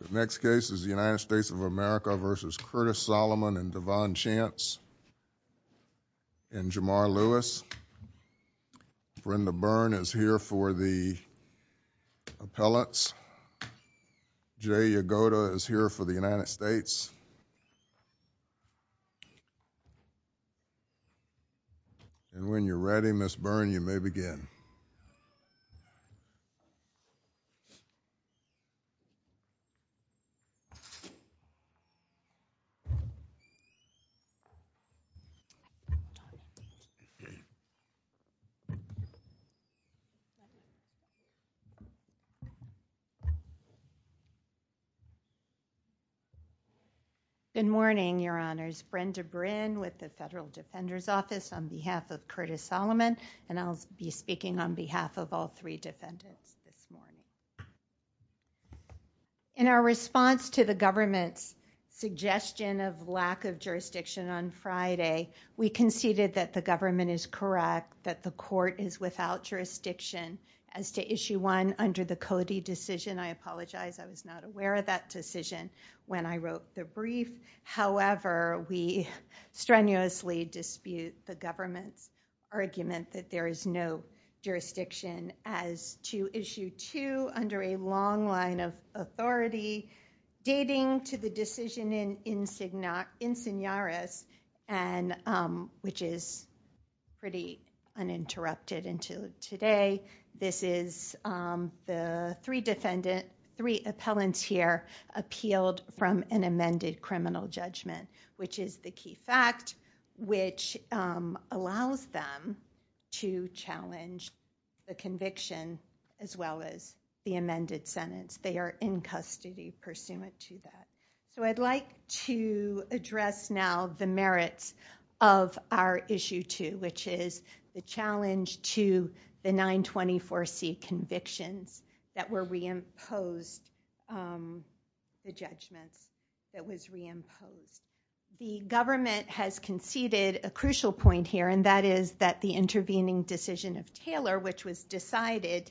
The next case is the United States of America v. Curtis Solomon and Devon Chance and Jamar Lewis. Brenda Byrne is here for the appellates. Jay Yagoda is here for the United States. And when you're ready, Ms. Byrne, you may begin. Brenda Byrne Good morning, Your Honors. Brenda Byrne with the Federal Defender's Office on behalf of Curtis Solomon, and I'll be speaking on behalf of all three defendants this morning. In our response to the government's suggestion of lack of jurisdiction on Friday, we conceded that the government is correct, that the court is without jurisdiction as to Issue 1 under the Cody decision. I apologize, I was not aware of that decision when I wrote the brief. However, we strenuously dispute the government's argument that there is no jurisdiction as to Issue 2 under a long line of authority dating to the decision in Insigniaris, which is pretty uninterrupted until today. This is the three defendants, three appellants here, appealed from an amended criminal judgment, which is the key fact, which allows them to challenge the conviction as well as the amended sentence. They are in custody pursuant to that. So I'd like to address now the merits of our Issue 2, which is the challenge to the 924C convictions that were reimposed, the judgments that was reimposed. The government has conceded a crucial point here, and that is that the intervening decision of Taylor, which was decided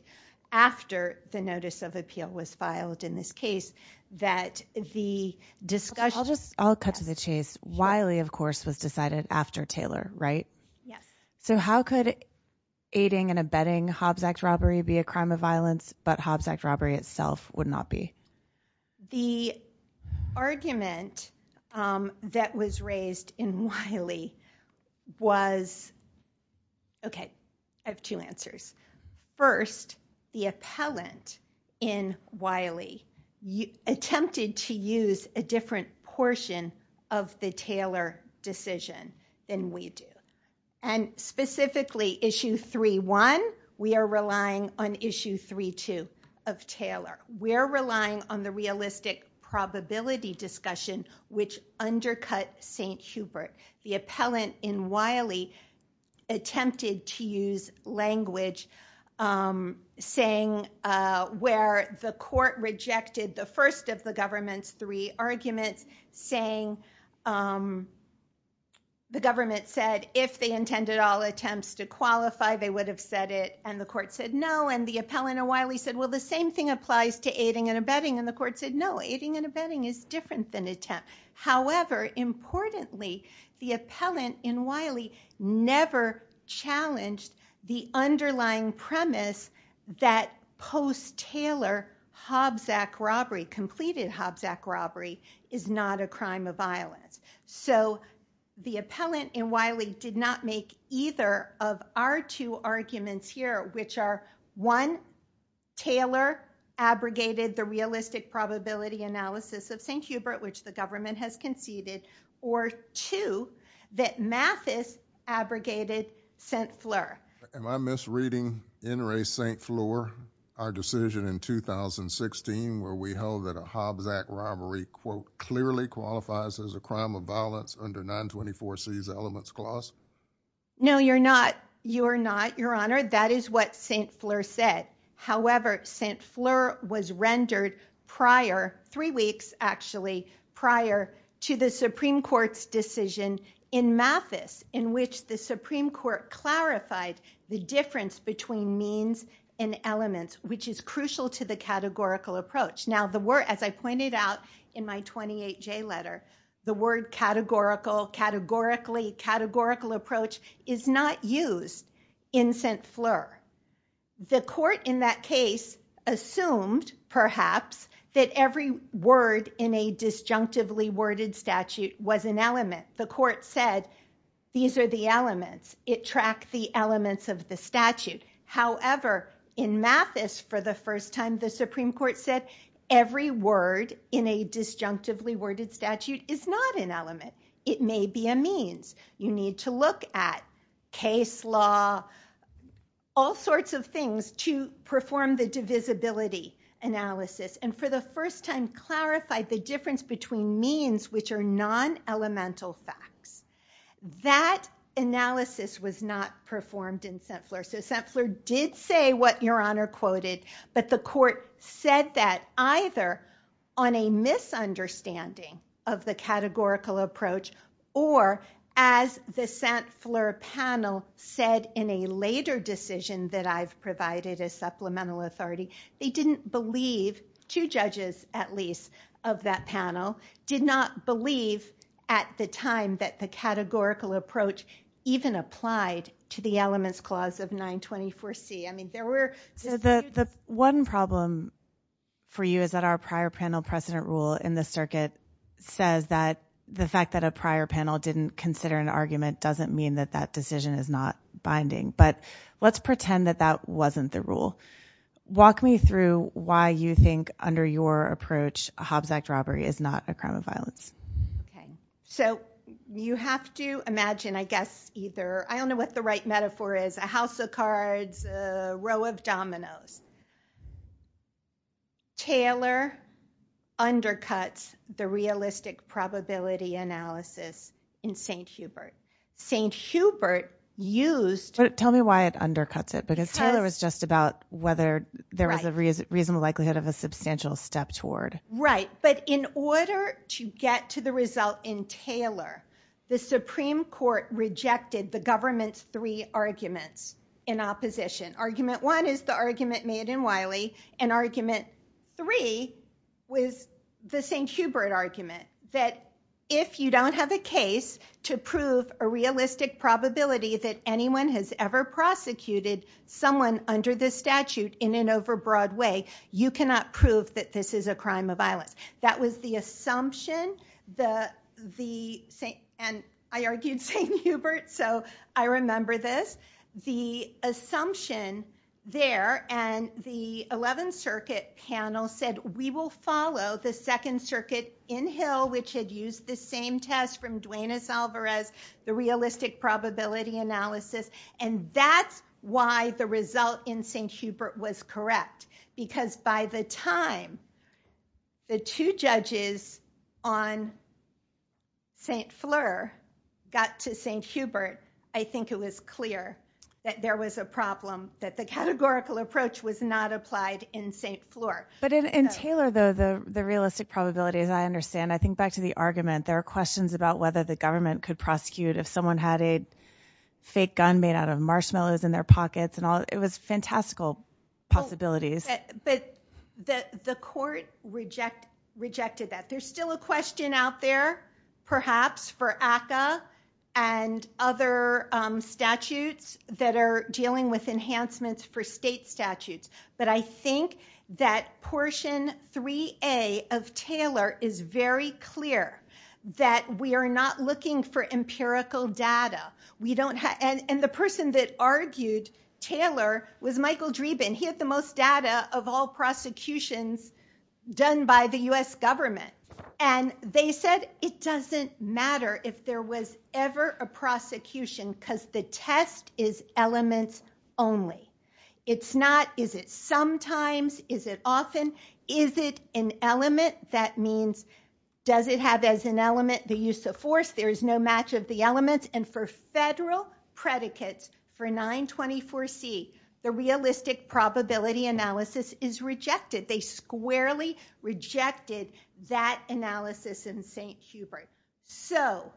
after the notice of appeal was filed in this case, that the discussion... I'll just, I'll cut to the chase. Wiley, of course, was decided after Taylor, right? Yes. So how could aiding and abetting Hobbs Act robbery be a crime of violence, but Hobbs Act robbery itself would not be? The argument that was raised in Wiley was... Okay, I have two answers. First, the appellant in Wiley attempted to use a different portion of the Taylor decision than we do. And specifically Issue 3.1, we are relying on Issue 3.2 of Taylor. We're relying on the realistic probability discussion, which undercut St. Hubert. The appellant in Wiley attempted to use language saying where the court rejected the first of the government's three arguments, saying the government said if they intended all attempts to qualify, they would have said it, and the court said no. And the appellant in Wiley said, well, the same thing applies to aiding and abetting. And the court said, no, aiding and abetting is different than attempt. However, importantly, the appellant in Wiley never challenged the underlying premise that post-Taylor Hobbs Act robbery, completed Hobbs Act robbery, is not a crime of violence. So the appellant in Wiley did not make either of our two arguments here, which are one, Taylor abrogated the realistic probability analysis of St. Hubert, which the government has conceded, or two, that Mathis abrogated St. Fleur. Am I misreading N. Ray St. Fleur? Our decision in 2016, where we held that a Hobbs Act robbery, quote, clearly qualifies as a crime of violence under 924C's elements clause? No, you're not. You're not, Your Honor. That is what St. Fleur said. However, St. Fleur was rendered prior, three weeks actually, prior to the Supreme Court's decision in Mathis, in which the Supreme Court clarified the difference between means and elements, which is crucial to the categorical approach. Now, as I pointed out in my 28J letter, the word categorical, categorically, categorical approach is not used in St. Fleur. The court in that case assumed, perhaps, that every word in a disjunctively worded statute was an element. The court said, these are the elements. It tracked the elements of the statute. However, in Mathis, for the first time, the Supreme Court said, every word in a disjunctively worded statute is not an element. It may be a means. You need to look at case law, all sorts of things, to perform the divisibility analysis, and for the first time, clarified the difference between means, which are non-elemental facts. That analysis was not performed in St. Fleur. So St. Fleur did say what Your Honor quoted, but the court said that either on a misunderstanding of the categorical approach, or as the St. Fleur panel said in a later decision that I've provided as supplemental authority, they didn't believe, two judges at least of that panel, did not believe at the time that the categorical approach even applied to the elements clause of 924C. I mean, there were... So the one problem for you is that our prior panel precedent rule in the circuit says that the fact that a prior panel didn't consider an argument doesn't mean that that decision is not binding. But let's pretend that that wasn't the rule. Walk me through why you think under your approach, a Hobbs Act robbery is not a crime of violence. So you have to imagine, I guess, either... I don't know what the right metaphor is. A house of cards, a row of dominoes. Taylor undercuts the realistic probability analysis in St. Hubert. St. Hubert used... But tell me why it undercuts it, because Taylor was just about whether there was a reasonable likelihood of a substantial step toward... Right, but in order to get to the result in Taylor, the Supreme Court rejected the government's three arguments in opposition. Argument one is the argument made in Wiley, and argument three was the St. Hubert argument, that if you don't have a case to prove a realistic probability that anyone has ever prosecuted someone under this statute in an overbroad way, you cannot prove that this is a crime of violence. That was the assumption. And I argued St. Hubert, so I remember this. The assumption there, and the 11th Circuit panel said, we will follow the Second Circuit in Hill, which had used the same test from Duenas Alvarez, the realistic probability analysis. And that's why the result in St. Hubert was correct, because by the time the two judges on St. Fleur got to St. Hubert, I think it was clear that there was a problem, that the categorical approach was not applied in St. Fleur. But in Taylor, though, the realistic probability, as I understand, I think back to the argument, there are questions about whether the government could prosecute if someone had a fake gun made out of marshmallows in their pockets, and it was fantastical possibilities. But the court rejected that. There's still a question out there, perhaps, for ACCA and other statutes that are dealing with enhancements for state statutes. But I think that portion 3A of Taylor is very clear that we are not looking for empirical data. And the person that argued Taylor was Michael Dreeben. He had the most data of all prosecutions done by the U.S. government. And they said it doesn't matter if there was ever a prosecution, because the test is elements only. It's not, is it sometimes, is it often, is it an element? That means, does it have as an element the use of force? There is no match of the elements. And for federal predicates, for 924C, the realistic probability analysis is rejected. They squarely rejected that analysis in St. Hubert. So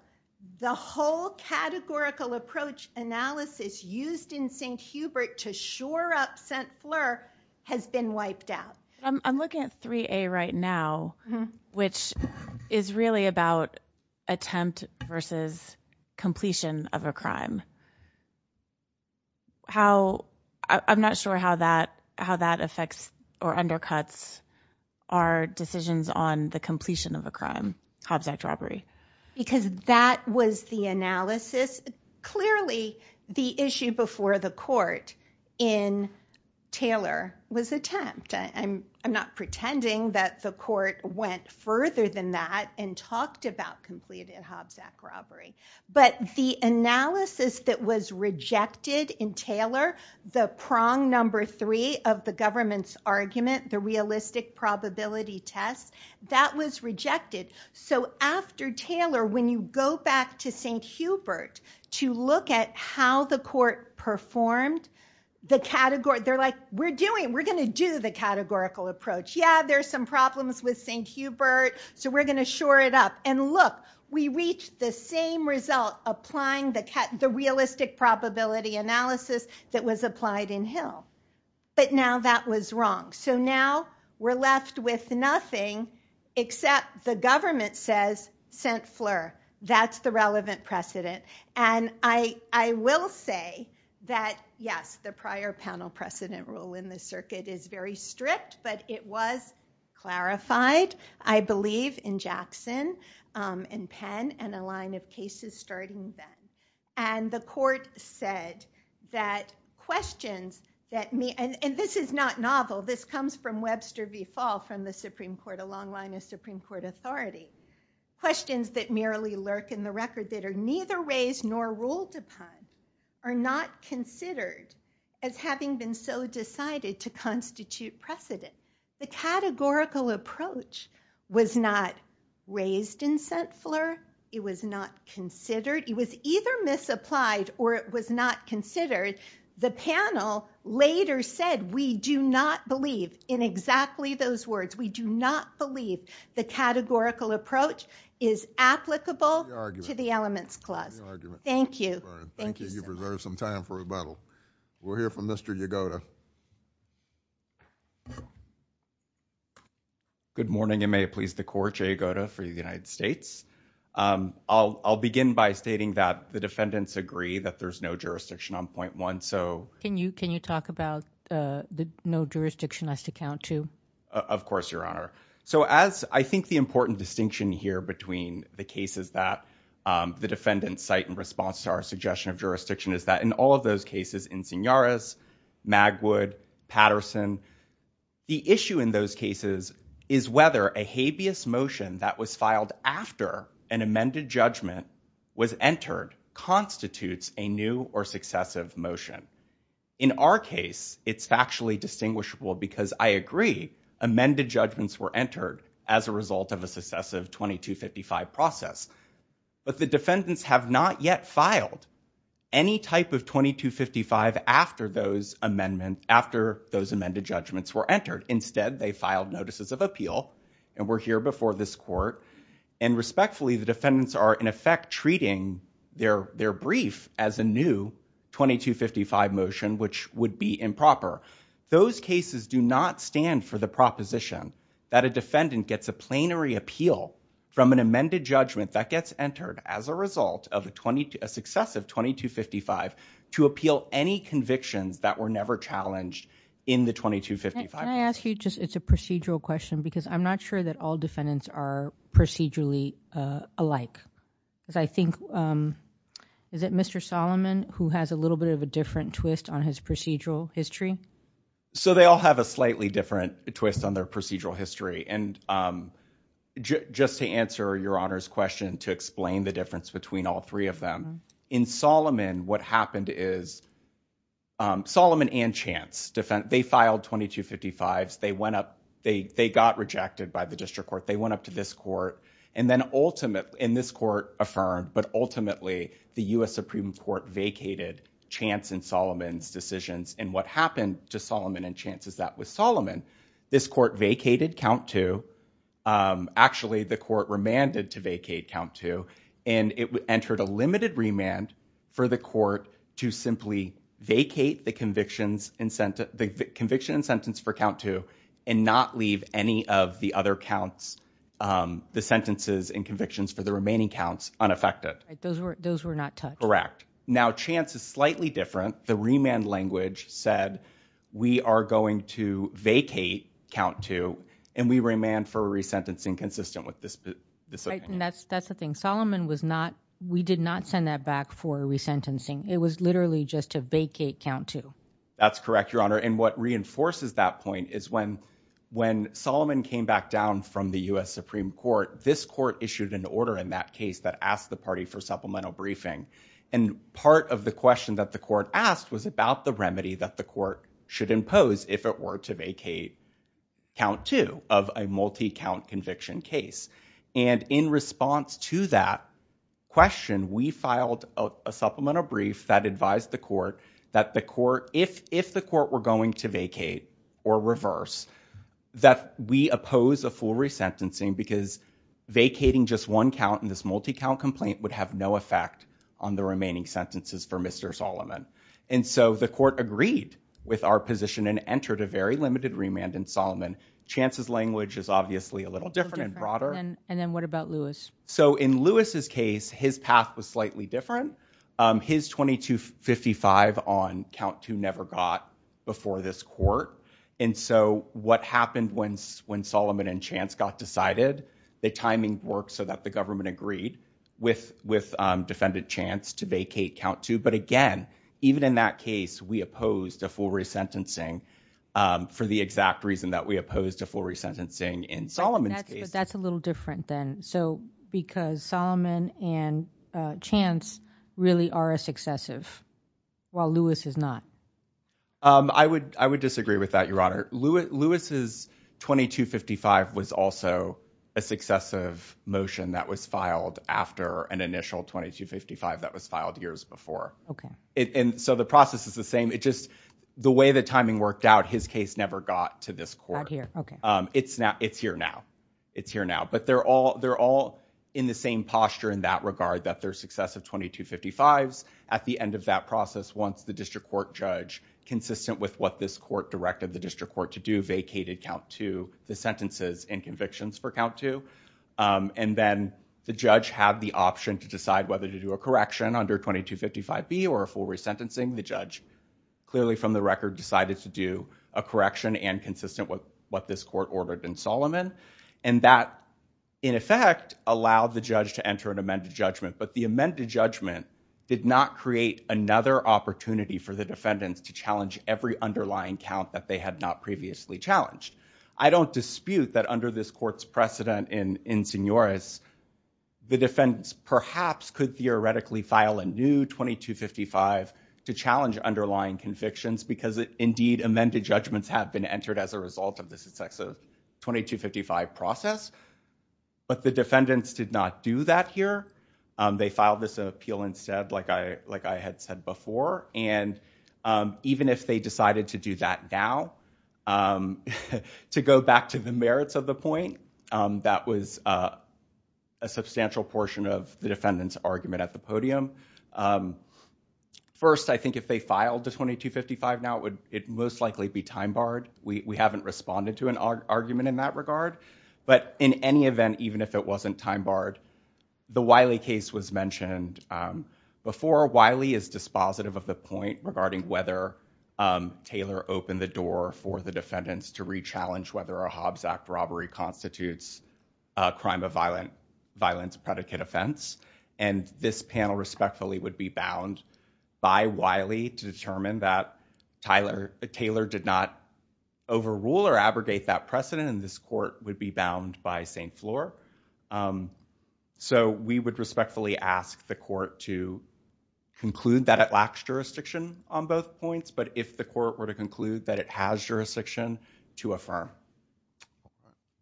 the whole categorical approach analysis used in St. Hubert to shore up St. Fleur has been wiped out. I'm looking at 3A right now, which is really about attempt versus completion of a crime. I'm not sure how that affects or undercuts our decisions on the completion of a crime, Hobbs Act robbery. Because that was the analysis. Clearly, the issue before the court in Taylor was attempt. I'm not pretending that the court went further than that and talked about completed Hobbs Act robbery. But the analysis that was rejected in Taylor, the prong number three of the government's argument, the realistic probability test, that was rejected. So after Taylor, when you go back to St. Hubert to look at how the court performed, the category, they're like, we're doing, we're going to do the categorical approach. Yeah, there's some problems with St. Hubert. So we're going to shore it up. And look, we reached the same result applying the realistic probability analysis that was applied in Hill. But now that was wrong. So now we're left with nothing except the government says St. Fleur, that's the relevant precedent. And I will say that, yes, the prior panel precedent rule in the circuit is very strict, but it was clarified, I believe, in Jackson and Penn and a line of cases starting then. And the court said that questions that may, and this is not novel, this comes from Webster v. Fall from the Supreme Court, a long line of Supreme Court authority, questions that merely lurk in the record that are neither raised nor ruled upon are not considered as having been so decided to categorical approach was not raised in St. Fleur. It was not considered. It was either misapplied or it was not considered. The panel later said, we do not believe in exactly those words. We do not believe the categorical approach is applicable to the elements clause. Thank you. Thank you. You've reserved some time for rebuttal. We'll hear from Mr. Yagoda. Good morning, and may it please the court, Jay Yagoda for the United States. I'll begin by stating that the defendants agree that there's no jurisdiction on point one. So Can you talk about the no jurisdiction has to count too? Of course, Your Honor. So as I think the important distinction here between the cases that the defendants cite in response to our suggestion of jurisdiction is that in all of those cases, Insignias, Magwood, Patterson, the issue in those cases is whether a habeas motion that was filed after an amended judgment was entered constitutes a new or successive motion. In our case, it's factually distinguishable because I agree, amended judgments were entered as a result of a successive 2255 process. But the defendants have not yet filed any type of 2255 after those amended judgments were entered. Instead, they filed notices of appeal and were here before this court. And respectfully, the defendants are in effect treating their brief as a new 2255 motion, which would be improper. Those cases do not stand for the appeal from an amended judgment that gets entered as a result of a successive 2255 to appeal any convictions that were never challenged in the 2255. Can I ask you just, it's a procedural question because I'm not sure that all defendants are procedurally alike. Because I think, is it Mr. Solomon who has a little bit of a different twist on his procedural history? So they all have a slightly different twist on their procedural history. And just to answer Your Honor's question to explain the difference between all three of them, in Solomon, what happened is Solomon and Chance, they filed 2255s. They got rejected by the district court. They went up to this court. And then ultimately, in this court affirmed, but ultimately, the US Supreme Court vacated Chance and Solomon's This court vacated count two. Actually, the court remanded to vacate count two, and it entered a limited remand for the court to simply vacate the conviction and sentence for count two and not leave any of the other counts, the sentences and convictions for the remaining counts unaffected. Those were not touched. Correct. Now, Chance is slightly different. The remand language said we are going to vacate count two, and we remand for resentencing consistent with this. And that's that's the thing. Solomon was not we did not send that back for resentencing. It was literally just to vacate count two. That's correct, Your Honor. And what reinforces that point is when when Solomon came back down from the US Supreme Court, this court issued an order in that case that asked the party for supplemental briefing. And part of the question that the court asked was about the remedy that the court should impose if it were to vacate count two of a multi count conviction case. And in response to that question, we filed a supplemental brief that advised the court that the court if if the court were going to vacate or reverse that we oppose a full resentencing because vacating just one count in this multi count complaint would have no effect on the remaining sentences for Mr. Solomon. And so the court agreed with our position and entered a very limited remand in Solomon. Chance's language is obviously a little different and broader. And then what about Lewis? So in Lewis's case, his path was slightly different. His twenty two fifty five on count two never got before this court. And so what happened when when Solomon and Chance got decided, the timing worked so that the government agreed with with defended chance to vacate count two. But again, even in that case, we opposed a full resentencing for the exact reason that we opposed a full resentencing in Solomon's case. That's a little different then. So because Solomon and Chance really are a successive while Lewis is not. I would I would disagree with that, Lewis's twenty two fifty five was also a successive motion that was filed after an initial twenty two fifty five that was filed years before. And so the process is the same. It's just the way the timing worked out. His case never got to this court here. It's not. It's here now. It's here now. But they're all they're all in the same posture in that regard, that their success of twenty two fifty fives at the end of that process. Once the district court consistent with what this court directed the district court to do, vacated count to the sentences and convictions for count two. And then the judge had the option to decide whether to do a correction under twenty two fifty five B or a full resentencing. The judge clearly from the record decided to do a correction and consistent with what this court ordered in Solomon. And that, in effect, allowed the judge to enter an amended judgment. But the amended judgment did not create another opportunity for the defendants to challenge every underlying count that they had not previously challenged. I don't dispute that under this court's precedent in in Senora's, the defendants perhaps could theoretically file a new twenty two fifty five to challenge underlying convictions, because indeed, amended judgments have been entered as a result of the success of twenty two fifty five process. But the defendants did not do that here. They filed this appeal instead, like I like I had said before. And even if they decided to do that now, to go back to the merits of the point, that was a substantial portion of the defendant's argument at the podium. First, I think if they filed the twenty two fifty five now, it would most likely be time barred. We haven't responded to an argument in that regard. But in any event, even if it wasn't time barred, the Wiley case was mentioned before. Wiley is dispositive of the point regarding whether Taylor opened the door for the defendants to rechallenge whether a Hobbs Act robbery constitutes a crime of violence, violence, predicate offense. And this panel respectfully would be bound by Wiley to determine that Tyler Taylor did not overrule or abrogate that precedent. And this so we would respectfully ask the court to conclude that it lacks jurisdiction on both points. But if the court were to conclude that it has jurisdiction to affirm.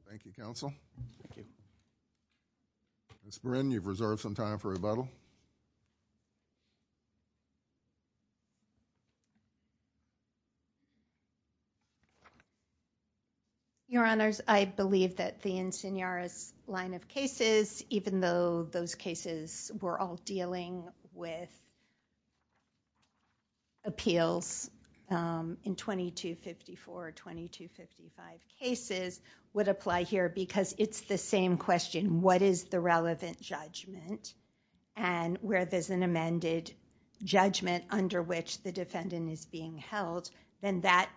Thank you, counsel. It's been you've reserved some time for rebuttal. Your honors, I believe that the insignias line of cases, even though those cases were all dealing with. Appeals in twenty two fifty four or twenty two fifty five cases would apply here because it's the same question, what is the relevant judgment and where does that apply? And I'm not going to amend it. If there is an amended judgment under which the defendant is being held, then that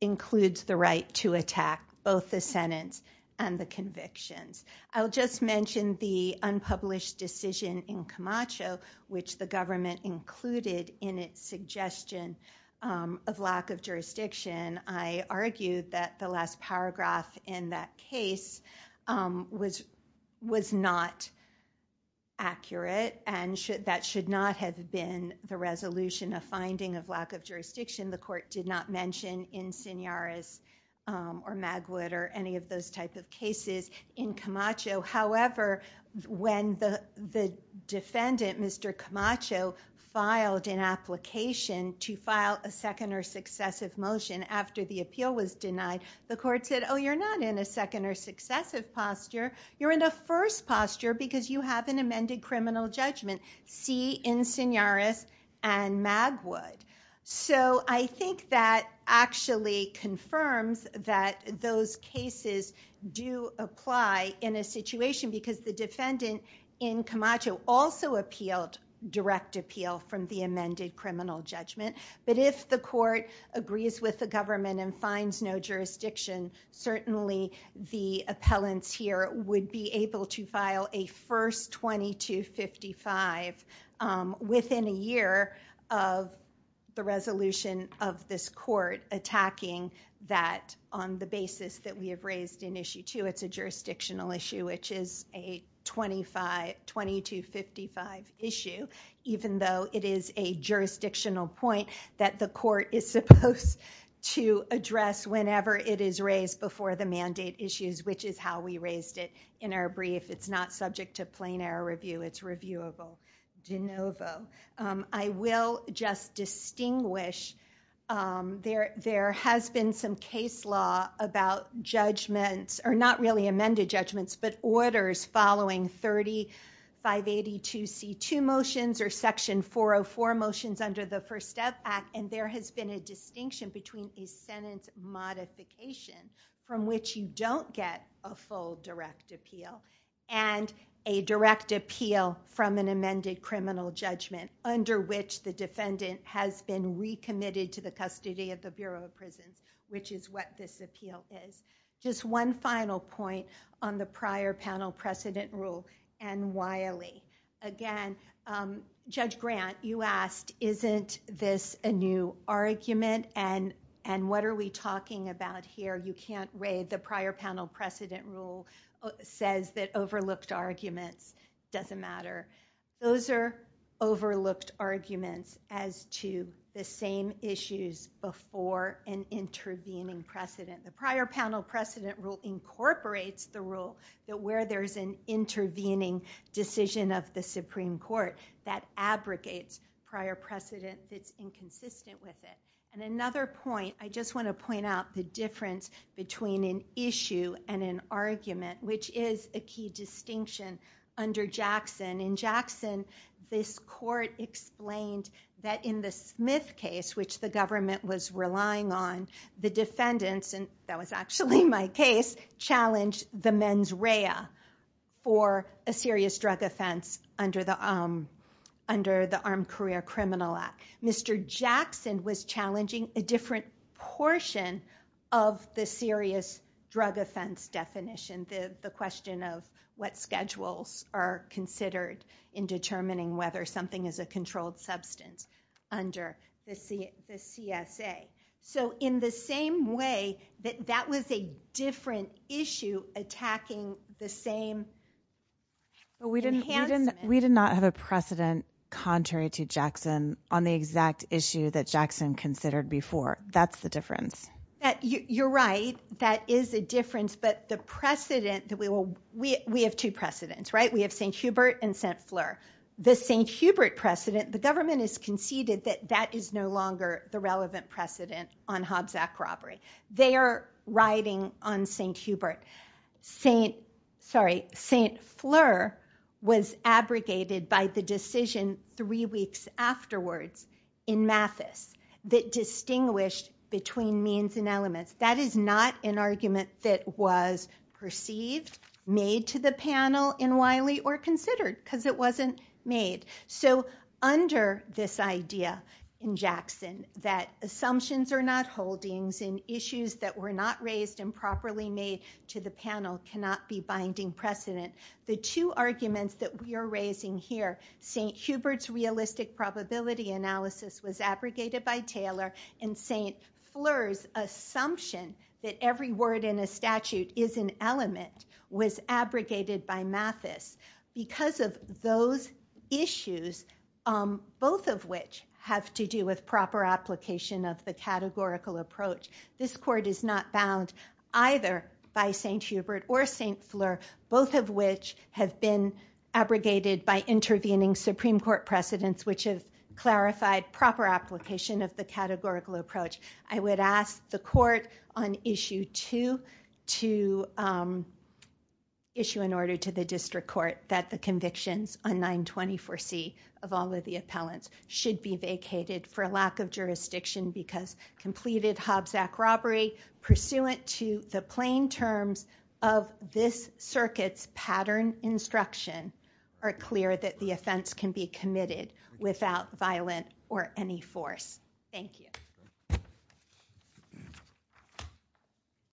includes the right to attack both the sentence and the convictions. I'll just mention the unpublished decision in Camacho, which the government included in its suggestion of lack of jurisdiction. I argued that the last paragraph in that case was was not accurate and that should not have been the resolution of finding of lack of jurisdiction. The court did not mention insignias or Magwood or any of those type of cases in Camacho. However, when the defendant, Mr. Camacho, filed an application to file a second or successive motion after the appeal was denied, the court said, oh, you're not in a second or successive posture. You're in a first posture because you have an amended criminal judgment. See insignias and Magwood. So I think that actually confirms that those cases do apply in a situation because the defendant in Camacho also appealed direct appeal from the amended criminal judgment. But if the court agrees with the government and finds no jurisdiction, certainly the appellants here would be able to file a first 2255 within a year of the resolution of this court attacking that on the basis that we have raised in issue two. It's a jurisdictional issue, which is a 2255 issue, even though it is a jurisdictional point that the court is supposed to address whenever it is raised before the mandate issues, which is how we raised it in our brief. It's not subject to plain error review. It's reviewable de novo. I will just distinguish there has been some case law about judgments, or not really amended judgments, but orders following 3582C2 motions or section 404 motions under the First Step Act, and there has been a distinction between a sentence modification from which you don't get a full direct appeal and a direct appeal from an amended criminal judgment under which the defendant has been recommitted to the custody of the Bureau of Prisons, which is what this appeal is. Just one final point on the prior panel precedent rule and Wiley. Again, Judge Grant, you asked, isn't this a new argument, and what are we talking about here? You can't read the prior panel precedent rule says that overlooked arguments doesn't matter. Those are overlooked arguments as to the same issues before an intervening precedent. The prior panel precedent rule incorporates the rule that where there is an intervening decision of the Supreme Court that abrogates prior precedent that's inconsistent with it. Another point, I just want to point out the difference between an issue and an argument, which is a key distinction under Jackson. In Jackson, this court explained that in the Smith case, which the government was relying on, the defendants, and that was actually my case, challenged the mens rea for a serious drug offense under the Armed Career Criminal Act. Mr. Jackson was challenging a different portion of the serious drug offense definition, the question of what schedules are considered in determining whether something is a controlled substance under the CSA. In the same way, that was a different issue attacking the same. We did not have a precedent contrary to Jackson on the exact issue that Jackson considered before. That's the difference. You're right, that is a difference, but the precedent, we have two precedents. We have St. Hubert and St. Fleur. The St. Hubert precedent, the government has conceded that that is no longer the relevant precedent on Hobbs Act robbery. They are riding on St. Hubert. St. Fleur was abrogated by the decision three weeks afterwards in Mathis that distinguished between means and elements. That is not an argument that was perceived, made to the panel in Wiley, or considered because it wasn't made. Under this idea in Jackson that assumptions are not holdings and issues that were not raised and properly made to the panel cannot be binding precedent, the two arguments that we are raising here, St. Hubert's realistic probability analysis was abrogated by Taylor, and St. Fleur's assumption that every word in a statute is an element was abrogated by Mathis. Because of those issues, both of which have to do with proper application of the categorical approach, this court is not bound either by St. Hubert or St. Fleur, both of which have been abrogated by intervening Supreme Court precedents which have clarified proper application of the that the convictions on 924C of all of the appellants should be vacated for lack of jurisdiction because completed Hobbs Act robbery pursuant to the plain terms of this circuit's pattern instruction are clear that the offense can be committed without violent or any force. Thank you.